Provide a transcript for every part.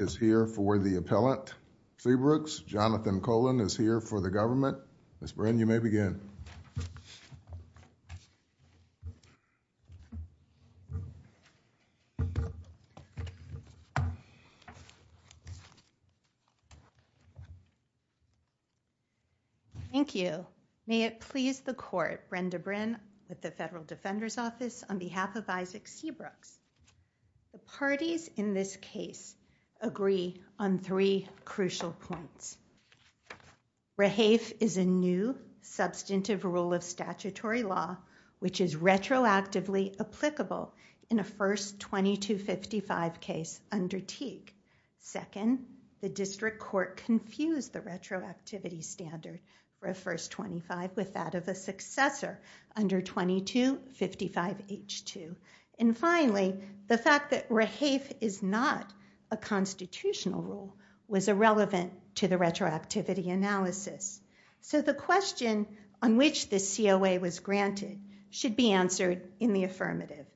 is here for the appellant Seabrooks. Jonathan Colon is here for the government. Ms. Bryn, you may begin. Thank you. May it please the court, Brenda Bryn with the Federal Defender's Seabrooks. The parties in this case agree on three crucial points. Rehafe is a new substantive rule of statutory law which is retroactively applicable in a first 2255 case under Teague. Second, the district court confused the retroactivity standard for a first 25 with that of a successor under 2255 H2. And finally, the fact that Rehafe is not a constitutional rule was irrelevant to the retroactivity analysis. So the question on which the COA was granted should be answered in the affirmative.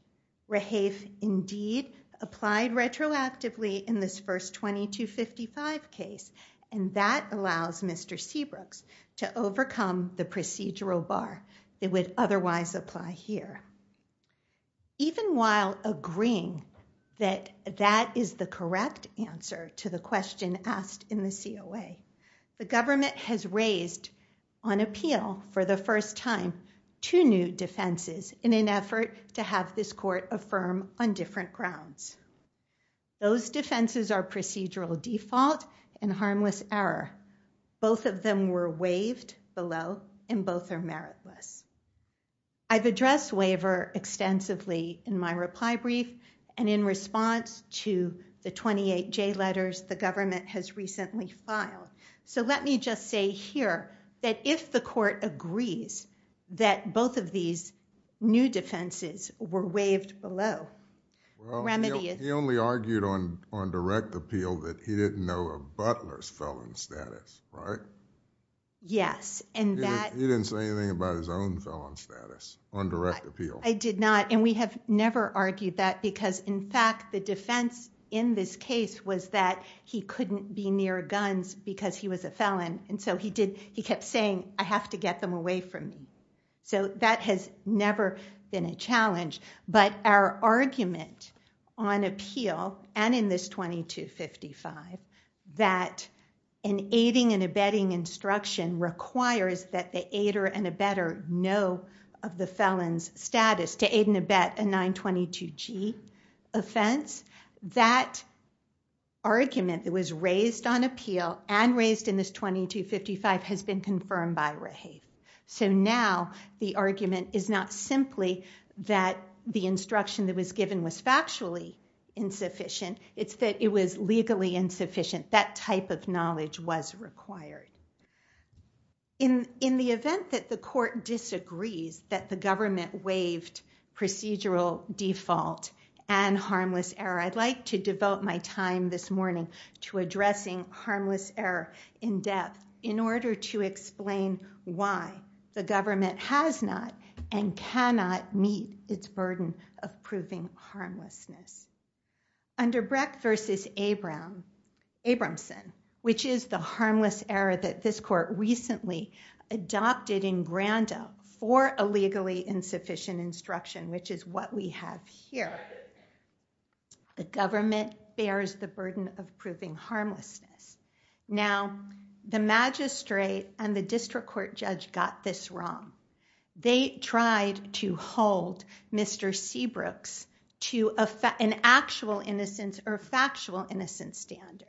Rehafe indeed applied retroactively in this first 2255 case and that would otherwise apply here. Even while agreeing that that is the correct answer to the question asked in the COA, the government has raised on appeal for the first time two new defenses in an effort to have this court affirm on different grounds. Those defenses are procedural default and harmless error. Both of them were waived below and both are meritless. I've addressed waiver extensively in my reply brief and in response to the 28J letters the government has recently filed. So let me just say here that if the court agrees that both of these new defenses were waived below... He didn't know a butler's felon status, right? Yes. He didn't say anything about his own felon status on direct appeal. I did not and we have never argued that because in fact the defense in this case was that he couldn't be near guns because he was a felon and so he kept saying, I have to get them away from me. So that has never been a challenge. But our argument on appeal and in this 2255 that an aiding and abetting instruction requires that the aider and abetter know of the felon's status to aid and abet a 922G offense, that argument that was raised on appeal and raised in this 2255 has been confirmed by Raheith. So now the argument is not simply that the instruction that was given was factually insufficient, it's that it was legally insufficient. That type of knowledge was required. In the event that the court disagrees that the government waived procedural default and harmless error, I'd like to devote my time this morning to addressing harmless error in depth in order to explain why the government has not and cannot meet its burden of proving harmlessness. Under Brecht v. Abramson, which is the harmless error that this court recently adopted in Granda for a legally insufficient instruction, which is what we have here, the magistrate and the district court judge got this wrong. They tried to hold Mr. Seabrooks to an actual innocence or factual innocence standard.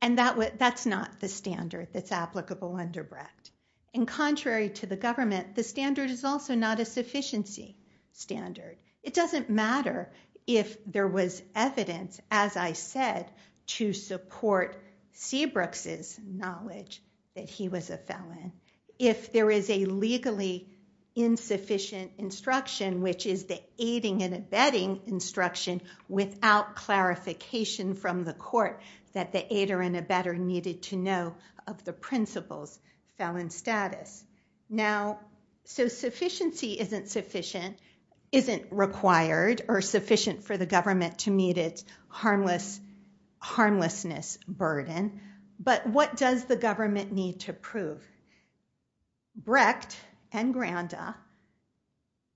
And that's not the standard that's applicable under Brecht. And contrary to the government, the standard is also not a sufficiency standard. It doesn't matter if there was evidence, as I said, to support Seabrooks' knowledge that he was a felon. If there is a legally insufficient instruction, which is the aiding and abetting instruction, without clarification from the court that the aider and abetter needed to know of the principal's felon status. Now, so sufficiency isn't required or sufficient for the government to meet its harmlessness burden. But what does the government need to prove? Brecht and Granda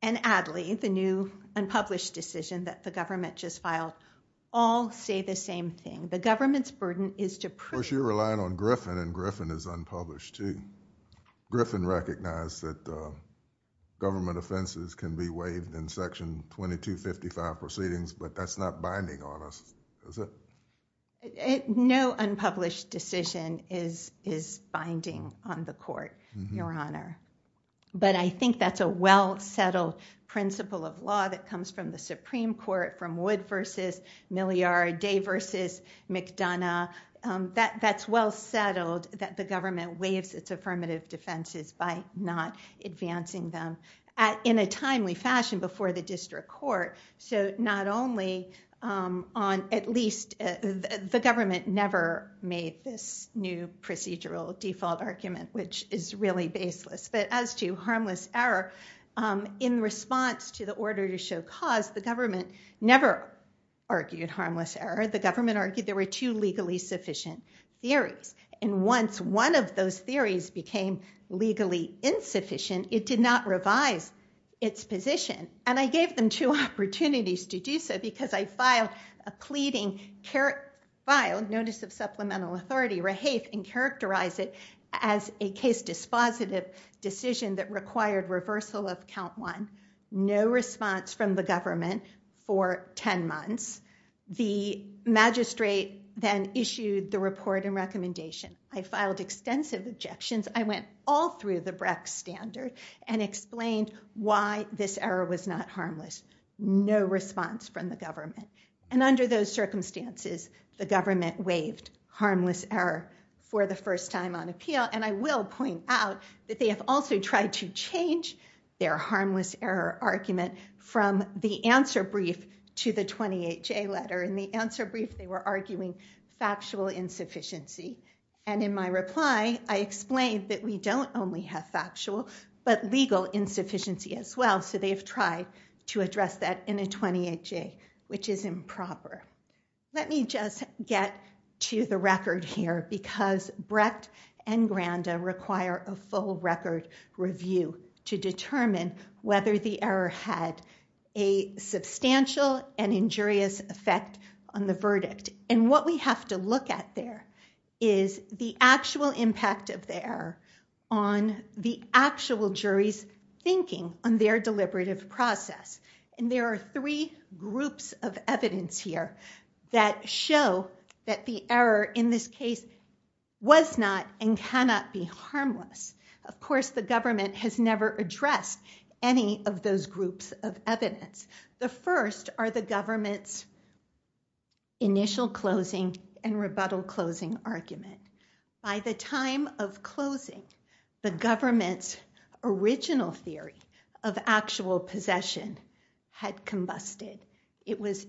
and Adly, the new unpublished decision that the government just filed, all say the same thing. The government's burden is to prove... Well, you're relying on Griffin and Griffin is unpublished, too. Griffin recognized that government offenses can be waived in Section 2255 proceedings, but that's not binding on us, is it? No unpublished decision is binding on the court, Your Honor. But I think that's a well-settled principle of law that comes from the Supreme Court, from Wood v. Milliard, Day v. McDonough. That's well-settled that the government waives its affirmative defenses by not advancing them in a timely fashion before the district court. So not only on at least... the government never made this new procedural default argument, which is really baseless. But as to harmless error, in response to the order to show cause, the government never argued harmless error. The government argued there were two legally sufficient theories. And once one of those theories became legally insufficient, it did not revise its position. And I gave them two opportunities to do so because I filed a pleading notice of supplemental authority, rehafe, and characterized it as a case-dispositive decision that required reversal of count one. No response from the government for 10 months. The magistrate then issued the report and recommendation. I filed extensive objections. I went all through the Brex standard and explained why this error was not harmless. No response from the government. And under those circumstances, the government waived harmless error for the record. They have also tried to change their harmless error argument from the answer brief to the 28-J letter. In the answer brief, they were arguing factual insufficiency. And in my reply, I explained that we don't only have factual, but legal insufficiency as well. So they have tried to address that in a 28-J, which is improper. Let me just get to the record here because Brecht and Granda require a full record review to determine whether the error had a substantial and injurious effect on the verdict. And what we have to look at there is the actual impact of the error on the actual jury's thinking on their deliberative process. And there are three groups of evidence here that show that the error in this case was not and cannot be harmless. Of course, the government has never addressed any of those groups of evidence. The first are the government's initial closing and rebuttal closing argument. By the time of closing, the government's original theory of actual possession had combusted. It was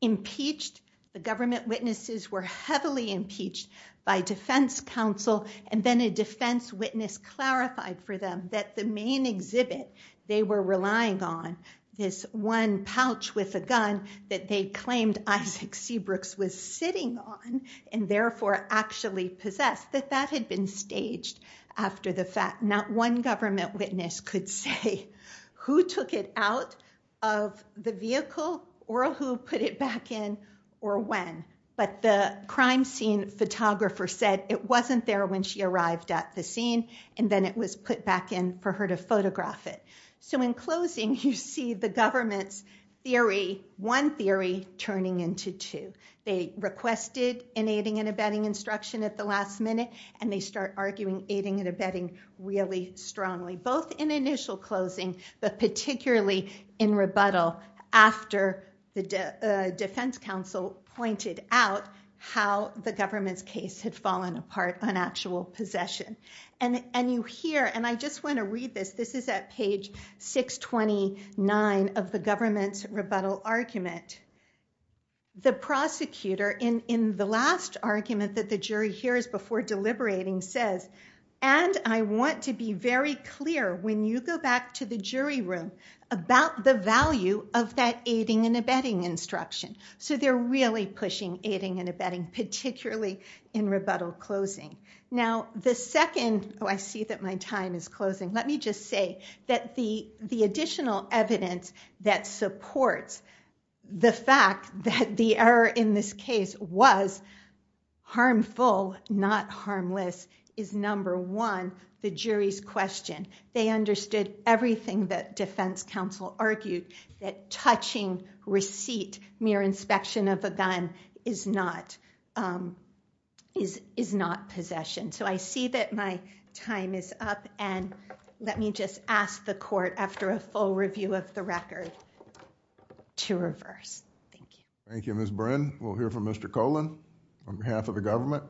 impeached. The government witnesses were heavily impeached by defense counsel. And then a defense witness clarified for them that the main exhibit they were relying on, this one pouch with a gun that they claimed Isaac Seabrooks was sitting on and therefore actually possessed, that that had been staged after the fact. Not one government witness could say who took it out of the vehicle or who put it back in or when. But the crime scene photographer said it wasn't there when she arrived at the scene and then it was put back in for her to photograph it. So in closing, you see the government's theory, one theory, turning into two. They requested an aiding and abetting really strongly, both in initial closing, but particularly in rebuttal after the defense counsel pointed out how the government's case had fallen apart on actual possession. And you hear, and I just want to read this, this is at page 629 of the government's rebuttal argument. The prosecutor in the last argument that the jury hears before deliberating says, and I want to be very clear when you go back to the jury room about the value of that aiding and abetting instruction. So they're really pushing aiding and abetting, particularly in rebuttal closing. Now the second, oh, I see that my time is closing. Let me just say that the additional evidence that supports the fact that the error in this case was harmful, not harmless, is number one, the jury's question. They understood everything that defense counsel argued, that touching receipt, mere inspection of a gun, is not possession. So I see that my time is up and let me just ask the court, after a full review of the record, to reverse. Thank you, Ms. Brin. We'll hear from Mr. Colan on behalf of the government.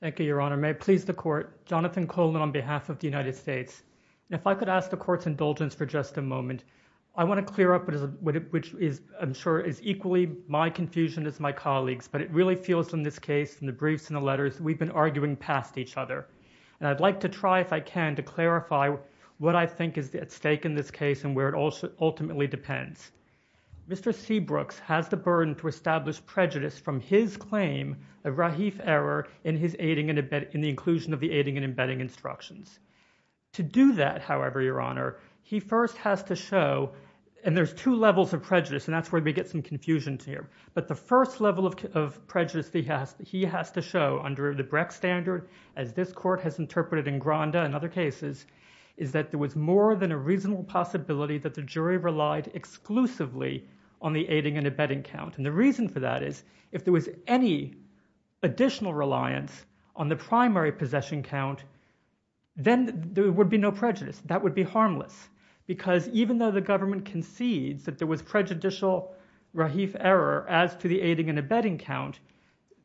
Thank you, Your Honor. May it please the court, Jonathan Colan on behalf of the United States. If I could ask the court's indulgence for just a moment. I want to clear up what is, which is, I'm sure is equally my confusion as my colleagues, but it really feels in this case, in the briefs and the letters, we've been arguing past each other. And I'd like to try, if I can, to clarify what I think is at stake in this case and where it ultimately depends. Mr. Seabrooks has the burden to establish prejudice from his claim of Rahif error in his aiding and embedding, in the inclusion of the aiding and embedding instructions. To do that, however, Your Honor, he first has to show, and there's two levels of prejudice and that's where we get some confusion here. But the first level of prejudice he has to show under the Brecht standard, as this court has interpreted in Granda and other cases, is that there was more than a reasonable possibility that the jury relied exclusively on the aiding and embedding count. And the reason for that is, if there was any additional reliance on the primary possession count, then there would be no prejudice. That would be harmless. Because even though the government concedes that there was prejudicial Rahif error as to the aiding and embedding count,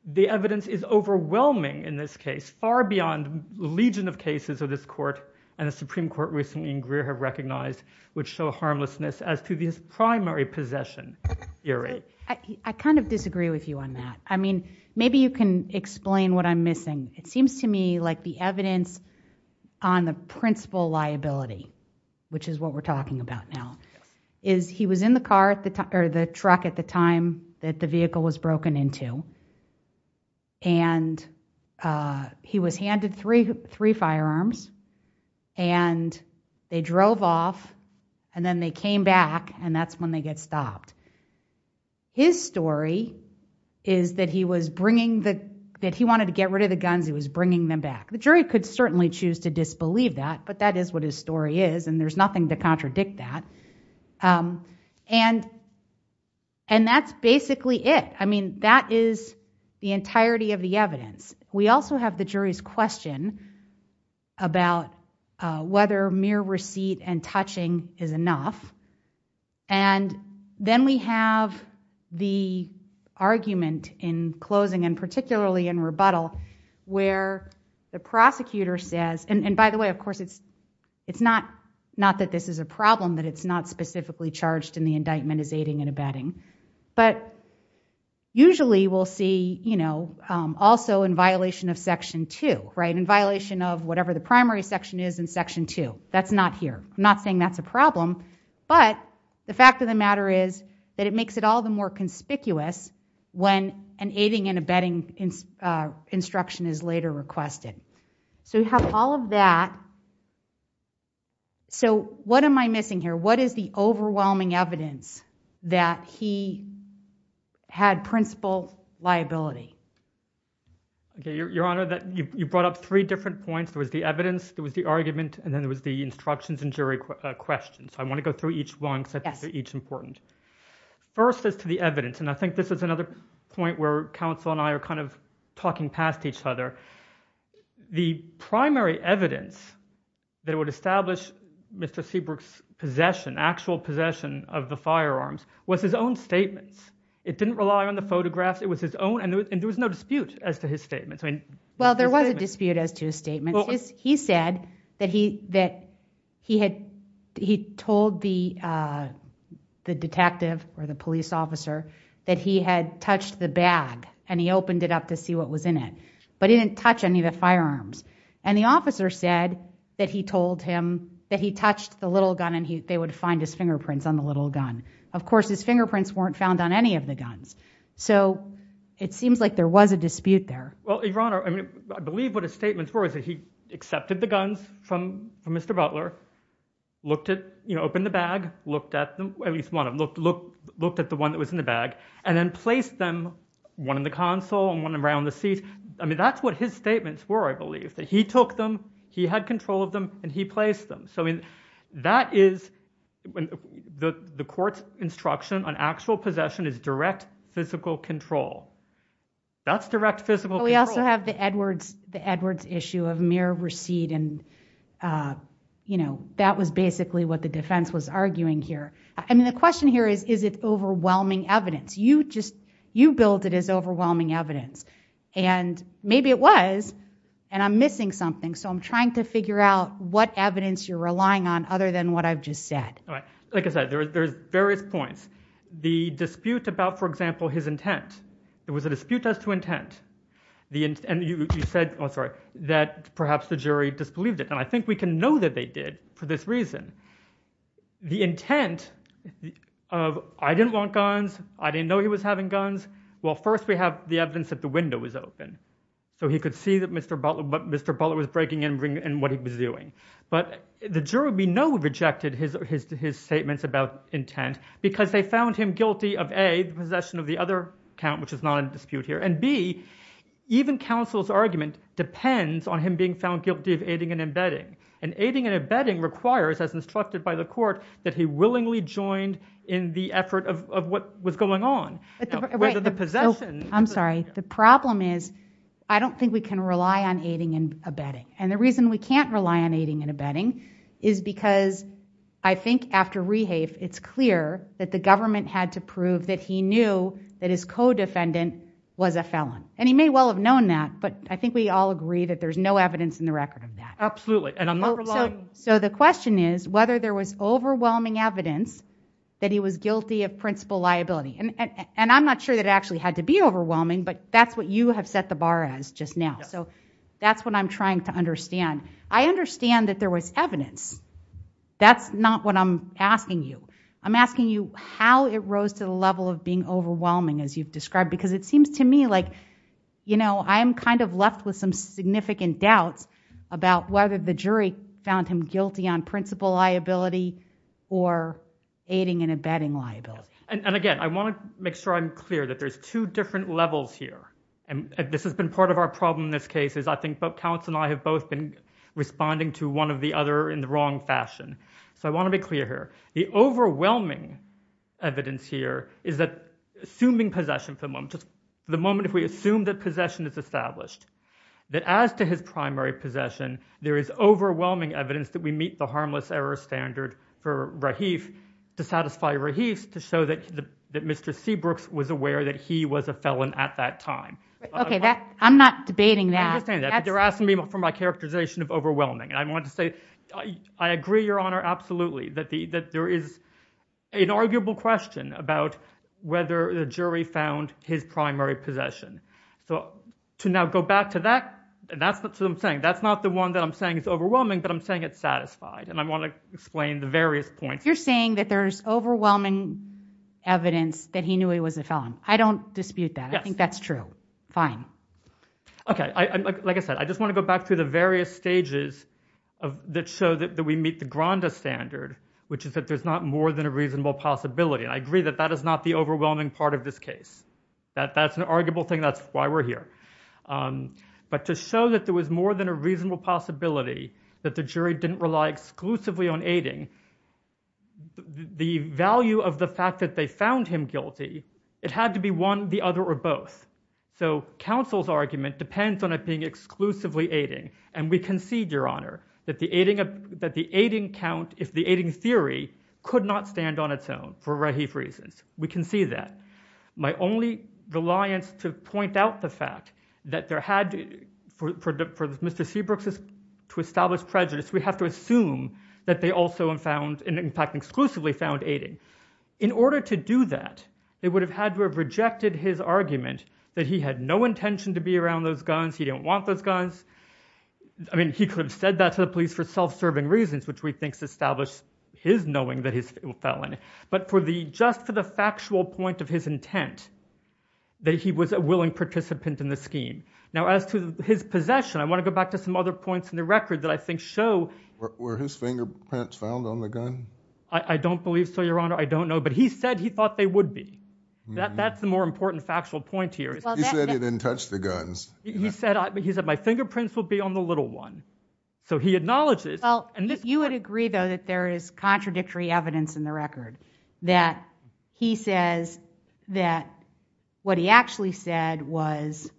the evidence is overwhelming in this case, far beyond the legion of cases of this court and the Supreme Court recently in Greer have recognized, which show a harmlessness as to his primary possession theory. I kind of disagree with you on that. I mean, maybe you can explain what I'm missing. It seems to me like the evidence on the principal liability, which is what we're talking about now, is he was in the truck at the time that the vehicle was broken into and he was handed three firearms and they drove off and then they came back and that's when they get stopped. His story is that he was bringing the, that he wanted to get rid of the guns, he was bringing them back. The jury could certainly choose to disbelieve that, but that is what his story is and there's nothing to contradict that. And that's basically it. I mean, that is the entirety of the evidence. We also have the jury's question about whether mere receipt and touching is enough. And then we have the argument in closing and particularly in rebuttal where the prosecutor says, and by the way, of course, it's not that this is a problem, that it's not specifically charged in the indictment as aiding and abetting, but usually we'll see, you know, also in violation of section two, right? In violation of whatever the primary section is in section two. That's not here. I'm not saying that's a problem, but the fact of the matter is that it makes it all the more conspicuous when an aiding and abetting instruction is later requested. So we have all of that. So what am I missing here? What is the overwhelming evidence that he had principal liability? Okay. Your Honor, you brought up three different points. There was the evidence, there was the argument, and then there was the instructions and jury questions. I want to go through each one because I think they're each important. First is to the evidence, and I think this is another point where counsel and I are kind of talking past each other. The primary evidence that would establish Mr. Seabrook's possession, actual possession of the firearms, was his own statements. It didn't rely on the photographs. It was his own, and there was no dispute as to his statements. Well, there was a dispute as to his statements. He said that he had, he told the detective or the police officer that he had touched the bag and he opened it up to see what was in it, but he didn't touch any of the firearms. And the officer said that he told him that he touched the little gun and they would find his fingerprints on the little gun. Of course, his fingerprints weren't found on any of the guns. So it seems like there was a dispute there. Well, Your Honor, I mean, I believe what his statements were is that he accepted the guns from Mr. Butler, opened the bag, looked at at least one of them, looked at the one that was in the bag, and then placed them, one in the console and one around the seat. I mean, that's what his statements were, I believe, that he took them, he had control of them, and he placed them. So that is, the court's instruction on actual possession is direct physical control. That's direct physical control. But we also have the Edwards issue of mere recede and, you know, that was basically what the defense was arguing here. I mean, the question here is, is it overwhelming evidence? You just, you build it as overwhelming evidence. And maybe it was, and I'm missing something, so I'm trying to figure out what evidence you're relying on other than what I've just said. Like I said, there's various points. The dispute about, for example, his intent. It was a dispute as to intent. And you said, oh, sorry, that perhaps the jury disbelieved it. And I think we can know that they did for this reason. The intent of, I didn't want guns, I didn't know he was having guns, well, first we have the evidence that the window was open. So he could see that Mr. Butler was breaking in and what he was doing. But the jury, we know, rejected his statements about intent because they found him guilty of, A, possession of the other count, which is not in dispute here, and B, even counsel's argument depends on him being found guilty of aiding and abetting. And aiding and abetting requires, as instructed by the court, that he willingly joined in the effort of what was going on. Right, so, I'm sorry. The problem is, I don't think we can rely on aiding and abetting. And the reason we can't rely on aiding and abetting is because I think after Rehafe it's clear that the government had to prove that he knew that his co-defendant was a felon. And he may well have known that, but I think we all agree that there's no evidence in the record of that. Absolutely, and I'm not relying. So the question is whether there was overwhelming evidence that he was guilty of principal liability. And I'm not sure that it actually had to be overwhelming, but that's what you have set the bar as just now. So that's what I'm trying to understand. I understand that there was I'm asking you how it rose to the level of being overwhelming, as you've described, because it seems to me like, you know, I'm kind of left with some significant doubts about whether the jury found him guilty on principal liability or aiding and abetting liability. And again, I want to make sure I'm clear that there's two different levels here. And this has been part of our problem in this case, is I think both counsel and I have both been So I want to be clear here. The overwhelming evidence here is that assuming possession for the moment, just the moment if we assume that possession is established, that as to his primary possession, there is overwhelming evidence that we meet the harmless error standard for Rahif to satisfy Rahif to show that Mr. Seabrooks was aware that he was a felon at that time. Okay, I'm not debating that. I understand that, but you're asking me for my characterization of overwhelming. And I agree, Your Honor, absolutely, that there is an arguable question about whether the jury found his primary possession. So to now go back to that, and that's what I'm saying, that's not the one that I'm saying is overwhelming, but I'm saying it's satisfied. And I want to explain the various points. You're saying that there's overwhelming evidence that he knew he was a felon. I don't dispute that. I think that's true. Fine. Okay. Like I said, I just want to go back through the various stages that show that we meet the grandest standard, which is that there's not more than a reasonable possibility. And I agree that that is not the overwhelming part of this case. That's an arguable thing. That's why we're here. But to show that there was more than a reasonable possibility that the jury didn't rely exclusively on aiding, the value of the fact that they found him guilty, it had to be one, the other, or both. So counsel's argument depends on it being exclusively aiding. And we concede, Your Honor, that the aiding count, if the aiding theory, could not stand on its own, for Rahif reasons. We can see that. My only reliance to point out the fact that there had, for Mr. Seabrooks to establish prejudice, we have to assume that they also found, in fact, exclusively found aiding. In order to do that, they would have had to have rejected his argument that he had no intention to be around those guns, he didn't want those guns. I mean, he could have said that to the police for self-serving reasons, which we think established his knowing that he's a felon. But just for the factual point of his intent, that he was a willing participant in the scheme. Now as to his possession, I want to go back to some other points in the record that I think show... Were his fingerprints found on the gun? I don't believe so, Your Honor. I don't know. But he said he thought they would be. That's He said he didn't touch the guns. He said, he said, my fingerprints will be on the little one. So he acknowledges... Well, you would agree, though, that there is contradictory evidence in the record, that he says that what he actually said was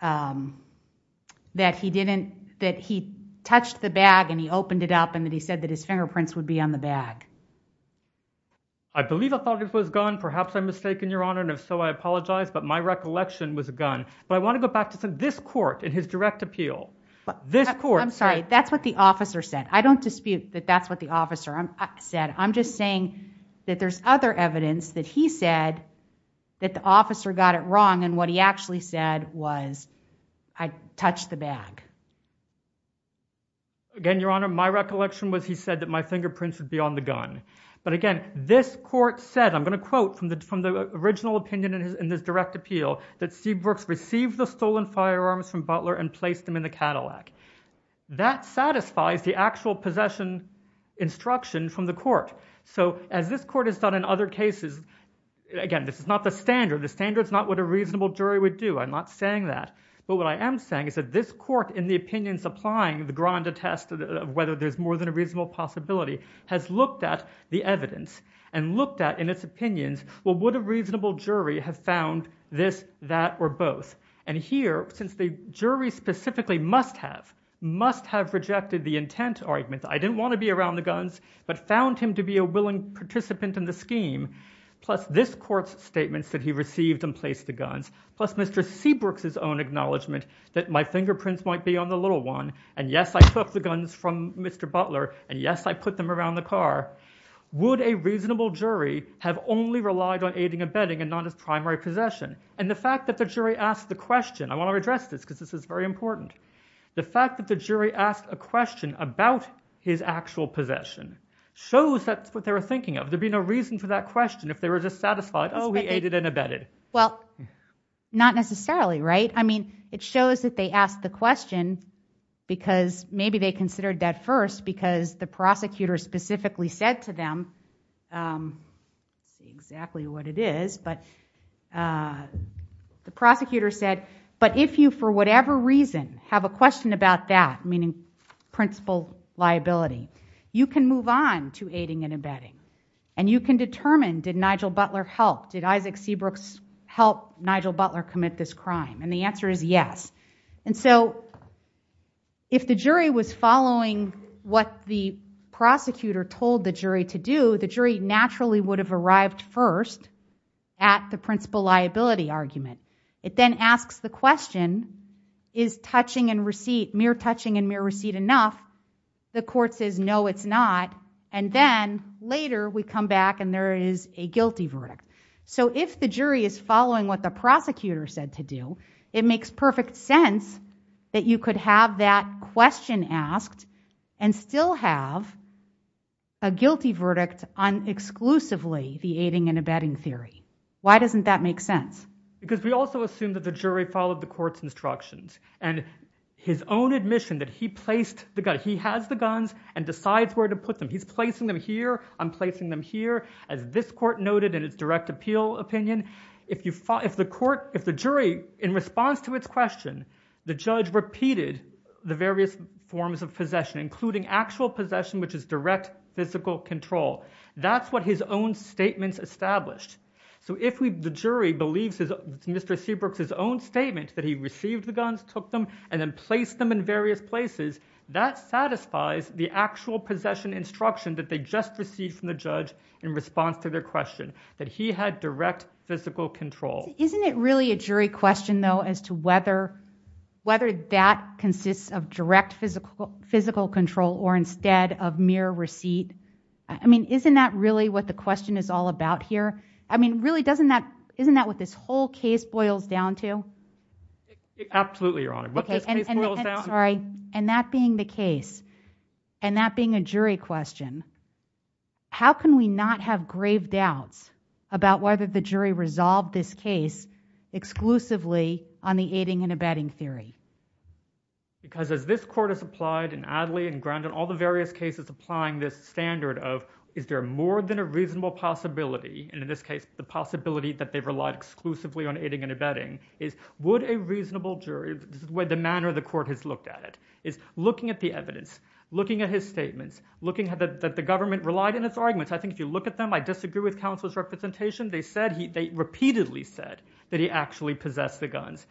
that he didn't, that he touched the bag and he opened it up and that he said that his fingerprints would be on the bag. I believe I thought it was a gun. Perhaps I'm mistaken, Your Honor. And if so, I apologize. But my recollection was a gun. But I want to go back to this court in his direct appeal. I'm sorry. That's what the officer said. I don't dispute that. That's what the officer said. I'm just saying that there's other evidence that he said that the officer got it wrong. And what he actually said was, I touched the bag. Again, Your Honor, my recollection was he said that my fingerprints would be on the gun. But again, this court said, I'm going to quote from the from the original opinion in this direct appeal, that Seabrooks received the stolen firearms from Butler and placed them in the Cadillac. That satisfies the actual possession instruction from the court. So as this court has done in other cases, again, this is not the standard. The standard is not what a reasonable jury would do. I'm not saying that. But what I am saying is that this court, in the opinions applying the Granda test of whether there's more than a reasonable possibility, has looked at the evidence and looked at, in its opinions, well, would a reasonable jury have found this, that, or both? And here, since the jury specifically must have, must have rejected the intent argument, I didn't want to be around the guns, but found him to be a willing participant in the scheme, plus this court's statements that he received and placed the guns, plus Mr. Seabrooks' own acknowledgement that my fingerprints might be on the little one, and yes, I took the guns from Mr. Butler, and yes, I put them around the car. Would a reasonable jury have only relied on aiding and abetting and not his primary possession? And the fact that the jury asked the question, I want to address this because this is very important, the fact that the jury asked a question about his actual possession shows that's what they were thinking of. There'd be no reason for that question if they were just satisfied, oh, he aided and abetted. Well, not necessarily, right? I mean, it shows that they asked the question because maybe they considered that first because the prosecutor specifically said to them, let's see exactly what it is, but the prosecutor said, but if you for whatever reason have a question about that, meaning principal liability, you can move on to aiding and abetting, and you can determine, did Nigel Butler help? Did Isaac Seabrooks help Nigel Butler commit this crime? And the answer is yes. And so if the jury was following what the prosecutor told the jury to do, the jury naturally would have arrived first at the principal liability argument. It then asks the question, is touching and receipt, mere touching and mere receipt enough? The court says, no, it's not. And then later we come back and there is a guilty verdict. So if the jury is following what the prosecutor said to do, it makes perfect sense that you could have that question asked and still have a guilty verdict on exclusively the aiding and abetting theory. Why doesn't that make sense? Because we also assume that the jury followed the court's instructions and his own admission that he placed the gun. He has the guns and decides where to put them. He's placing them here. I'm placing them here. As this court noted in its direct appeal opinion, if the jury, in response to its question, the judge repeated the various forms of possession, including actual possession, which is direct physical control. That's what his own statements established. So if the jury believes Mr. Seabrooks' own statement that he received the guns, took them, and then placed them in various places, that satisfies the actual possession instruction that they just received from the judge in response to their question, that he had direct physical control. Isn't it really a jury question though as to whether whether that consists of direct physical control or instead of mere receipt? I mean, isn't that really what the question is all about here? I mean, really, doesn't that, isn't that what this whole case boils down to? Absolutely, Your Honor. And that being the case, and that being a jury question, how can we not have grave doubts about whether the jury resolved this case exclusively on the aiding and abetting theory? Because as this court has applied in Adley and Grandin, all the various cases applying this standard of, is there more than a reasonable possibility, and in this case, the possibility that they've relied exclusively on aiding and abetting, is would a reasonable jury, the manner the court has looked at it, is looking at the evidence, looking at his statements, looking at the government relied in its arguments. I think if you look at them, I disagree with counsel's representation. They said, they repeatedly said that he actually possessed the guns.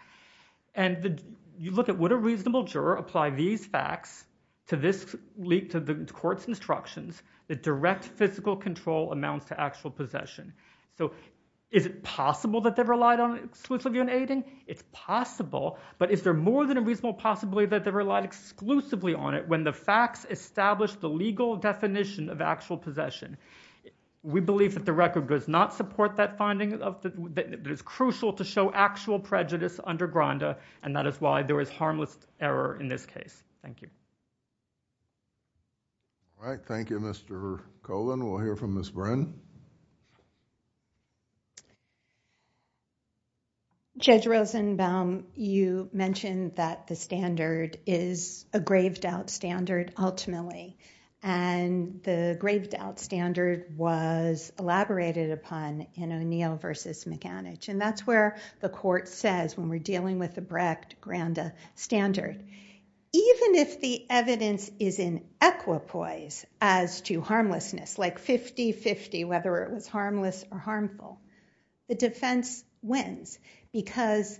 And you look at, would a reasonable juror apply these facts to this leak to the court's instructions that direct physical control amounts to actual possession? So is it possible that they've relied exclusively on aiding? It's possible, but is there more than reasonable possibility that they relied exclusively on it when the facts established the legal definition of actual possession? We believe that the record does not support that finding, that it's crucial to show actual prejudice under Grandin, and that is why there is harmless error in this case. Thank you. All right. Thank you, Mr. Colvin. We'll hear from Ms. Bren. Judge Rosenbaum, you mentioned that the standard is a grave doubt standard ultimately. And the grave doubt standard was elaborated upon in O'Neill versus McAnich. And that's where the court says, when we're dealing with the Brecht-Grandin standard, even if the evidence is in equipoise as to harmlessness, like 50-50, whether it was harmless or harmful, the defense wins because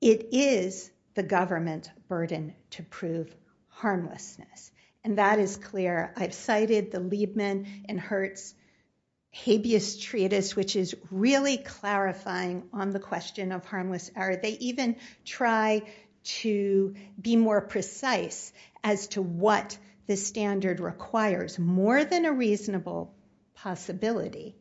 it is the government burden to prove harmlessness. And that is clear. I've cited the Liebman and Hertz habeas treatise, which is really clarifying on the question of harmless error. They even try to be more precise as to what the standard requires, more than a reasonable possibility.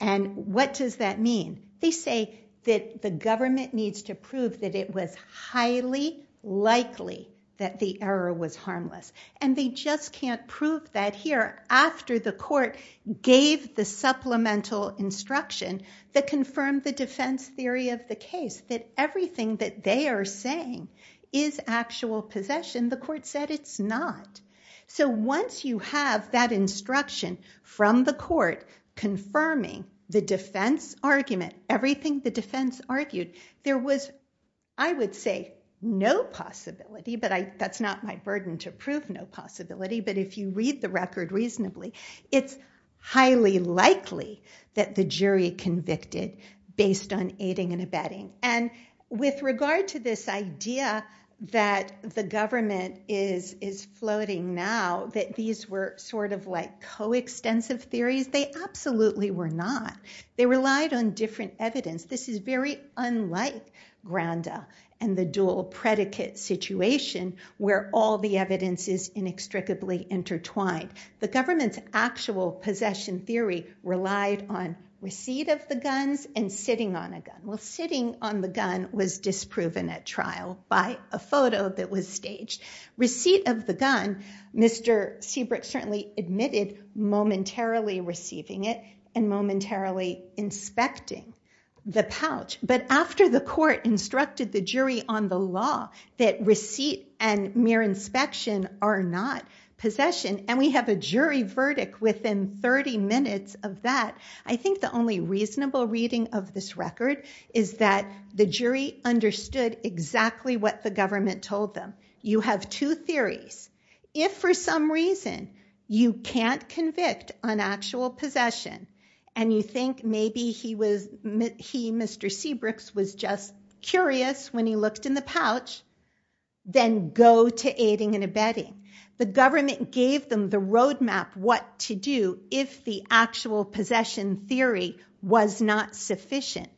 And what does that mean? They say that the government needs to prove that it was highly likely that the error was harmless. And they just can't prove that here after the court gave the supplemental instruction that confirmed the defense theory of the case, that everything that they are saying is actual possession. The court said it's not. So once you have that instruction from the court confirming the defense argument, everything the defense argued, there was, I would say, no possibility, but that's not my burden to prove no possibility. But if you read the record based on aiding and abetting, and with regard to this idea that the government is floating now, that these were sort of like coextensive theories, they absolutely were not. They relied on different evidence. This is very unlike Granda and the dual predicate situation where all the evidence is inextricably intertwined. The government's actual possession theory relied on receipt of the guns and sitting on a gun. Well, sitting on the gun was disproven at trial by a photo that was staged. Receipt of the gun, Mr. Seabrook certainly admitted momentarily receiving it and momentarily inspecting the pouch. But after the court instructed the jury on the law that receipt and mere inspection are not possession, and we have a jury verdict within 30 minutes of that, I think the only reasonable reading of this record is that the jury understood exactly what the government told them. You have two theories. If for some reason you can't convict on actual possession and you think maybe he, Mr. Seabrook, was just curious when he looked in the pouch, then go to aiding and abetting. The government gave them the roadmap what to do if the actual possession theory was not sufficient.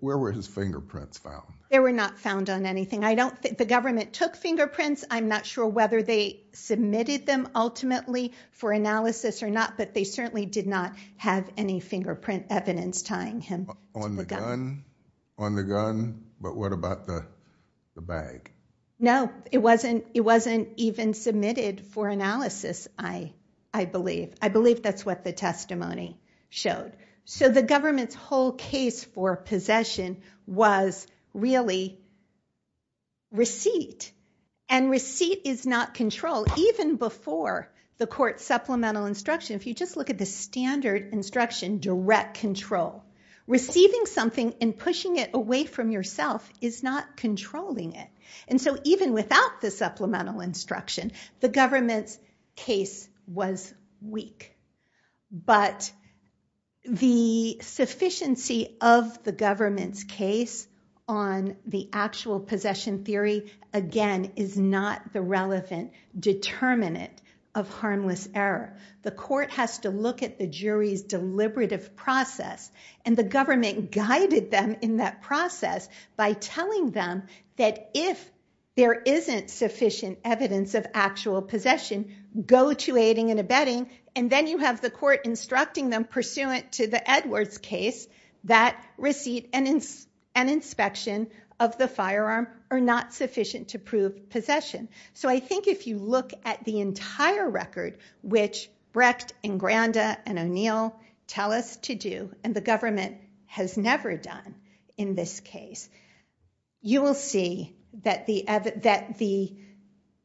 Where were his fingerprints found? They were not found on anything. The government took fingerprints. I'm not sure whether they submitted them ultimately for analysis or not, but they certainly did not have any fingerprint evidence tying him to the gun. On the gun, but what about the bag? No, it wasn't even submitted for analysis, I believe. I believe that's what the testimony showed. So the government's whole case for possession was really receipt, and receipt is not control. Even before the court supplemental instruction, if you just look at the standard instruction, direct control, receiving something and pushing it away from yourself is not controlling it. So even without the supplemental instruction, the government's case was weak. But the sufficiency of the government's case on the actual possession theory, again, is not the relevant determinant of harmless error. The court has to look at the jury's deliberative process, and the government guided them in that process by telling them that if there isn't sufficient evidence of actual possession, go to aiding and abetting, and then you have the court instructing them pursuant to the Edwards case that receipt and inspection of the firearm are not sufficient to prove possession. So I think if you look at the entire record, which Brecht and Granda and O'Neill tell us to do, and the case, you will see that the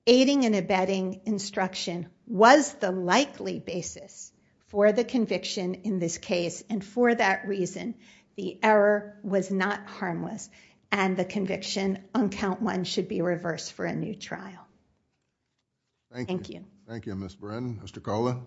aiding and abetting instruction was the likely basis for the conviction in this case, and for that reason, the error was not harmless, and the conviction on count one should be reversed for a new trial. Thank you. Thank you, Ms. Brannon. Mr. Kola?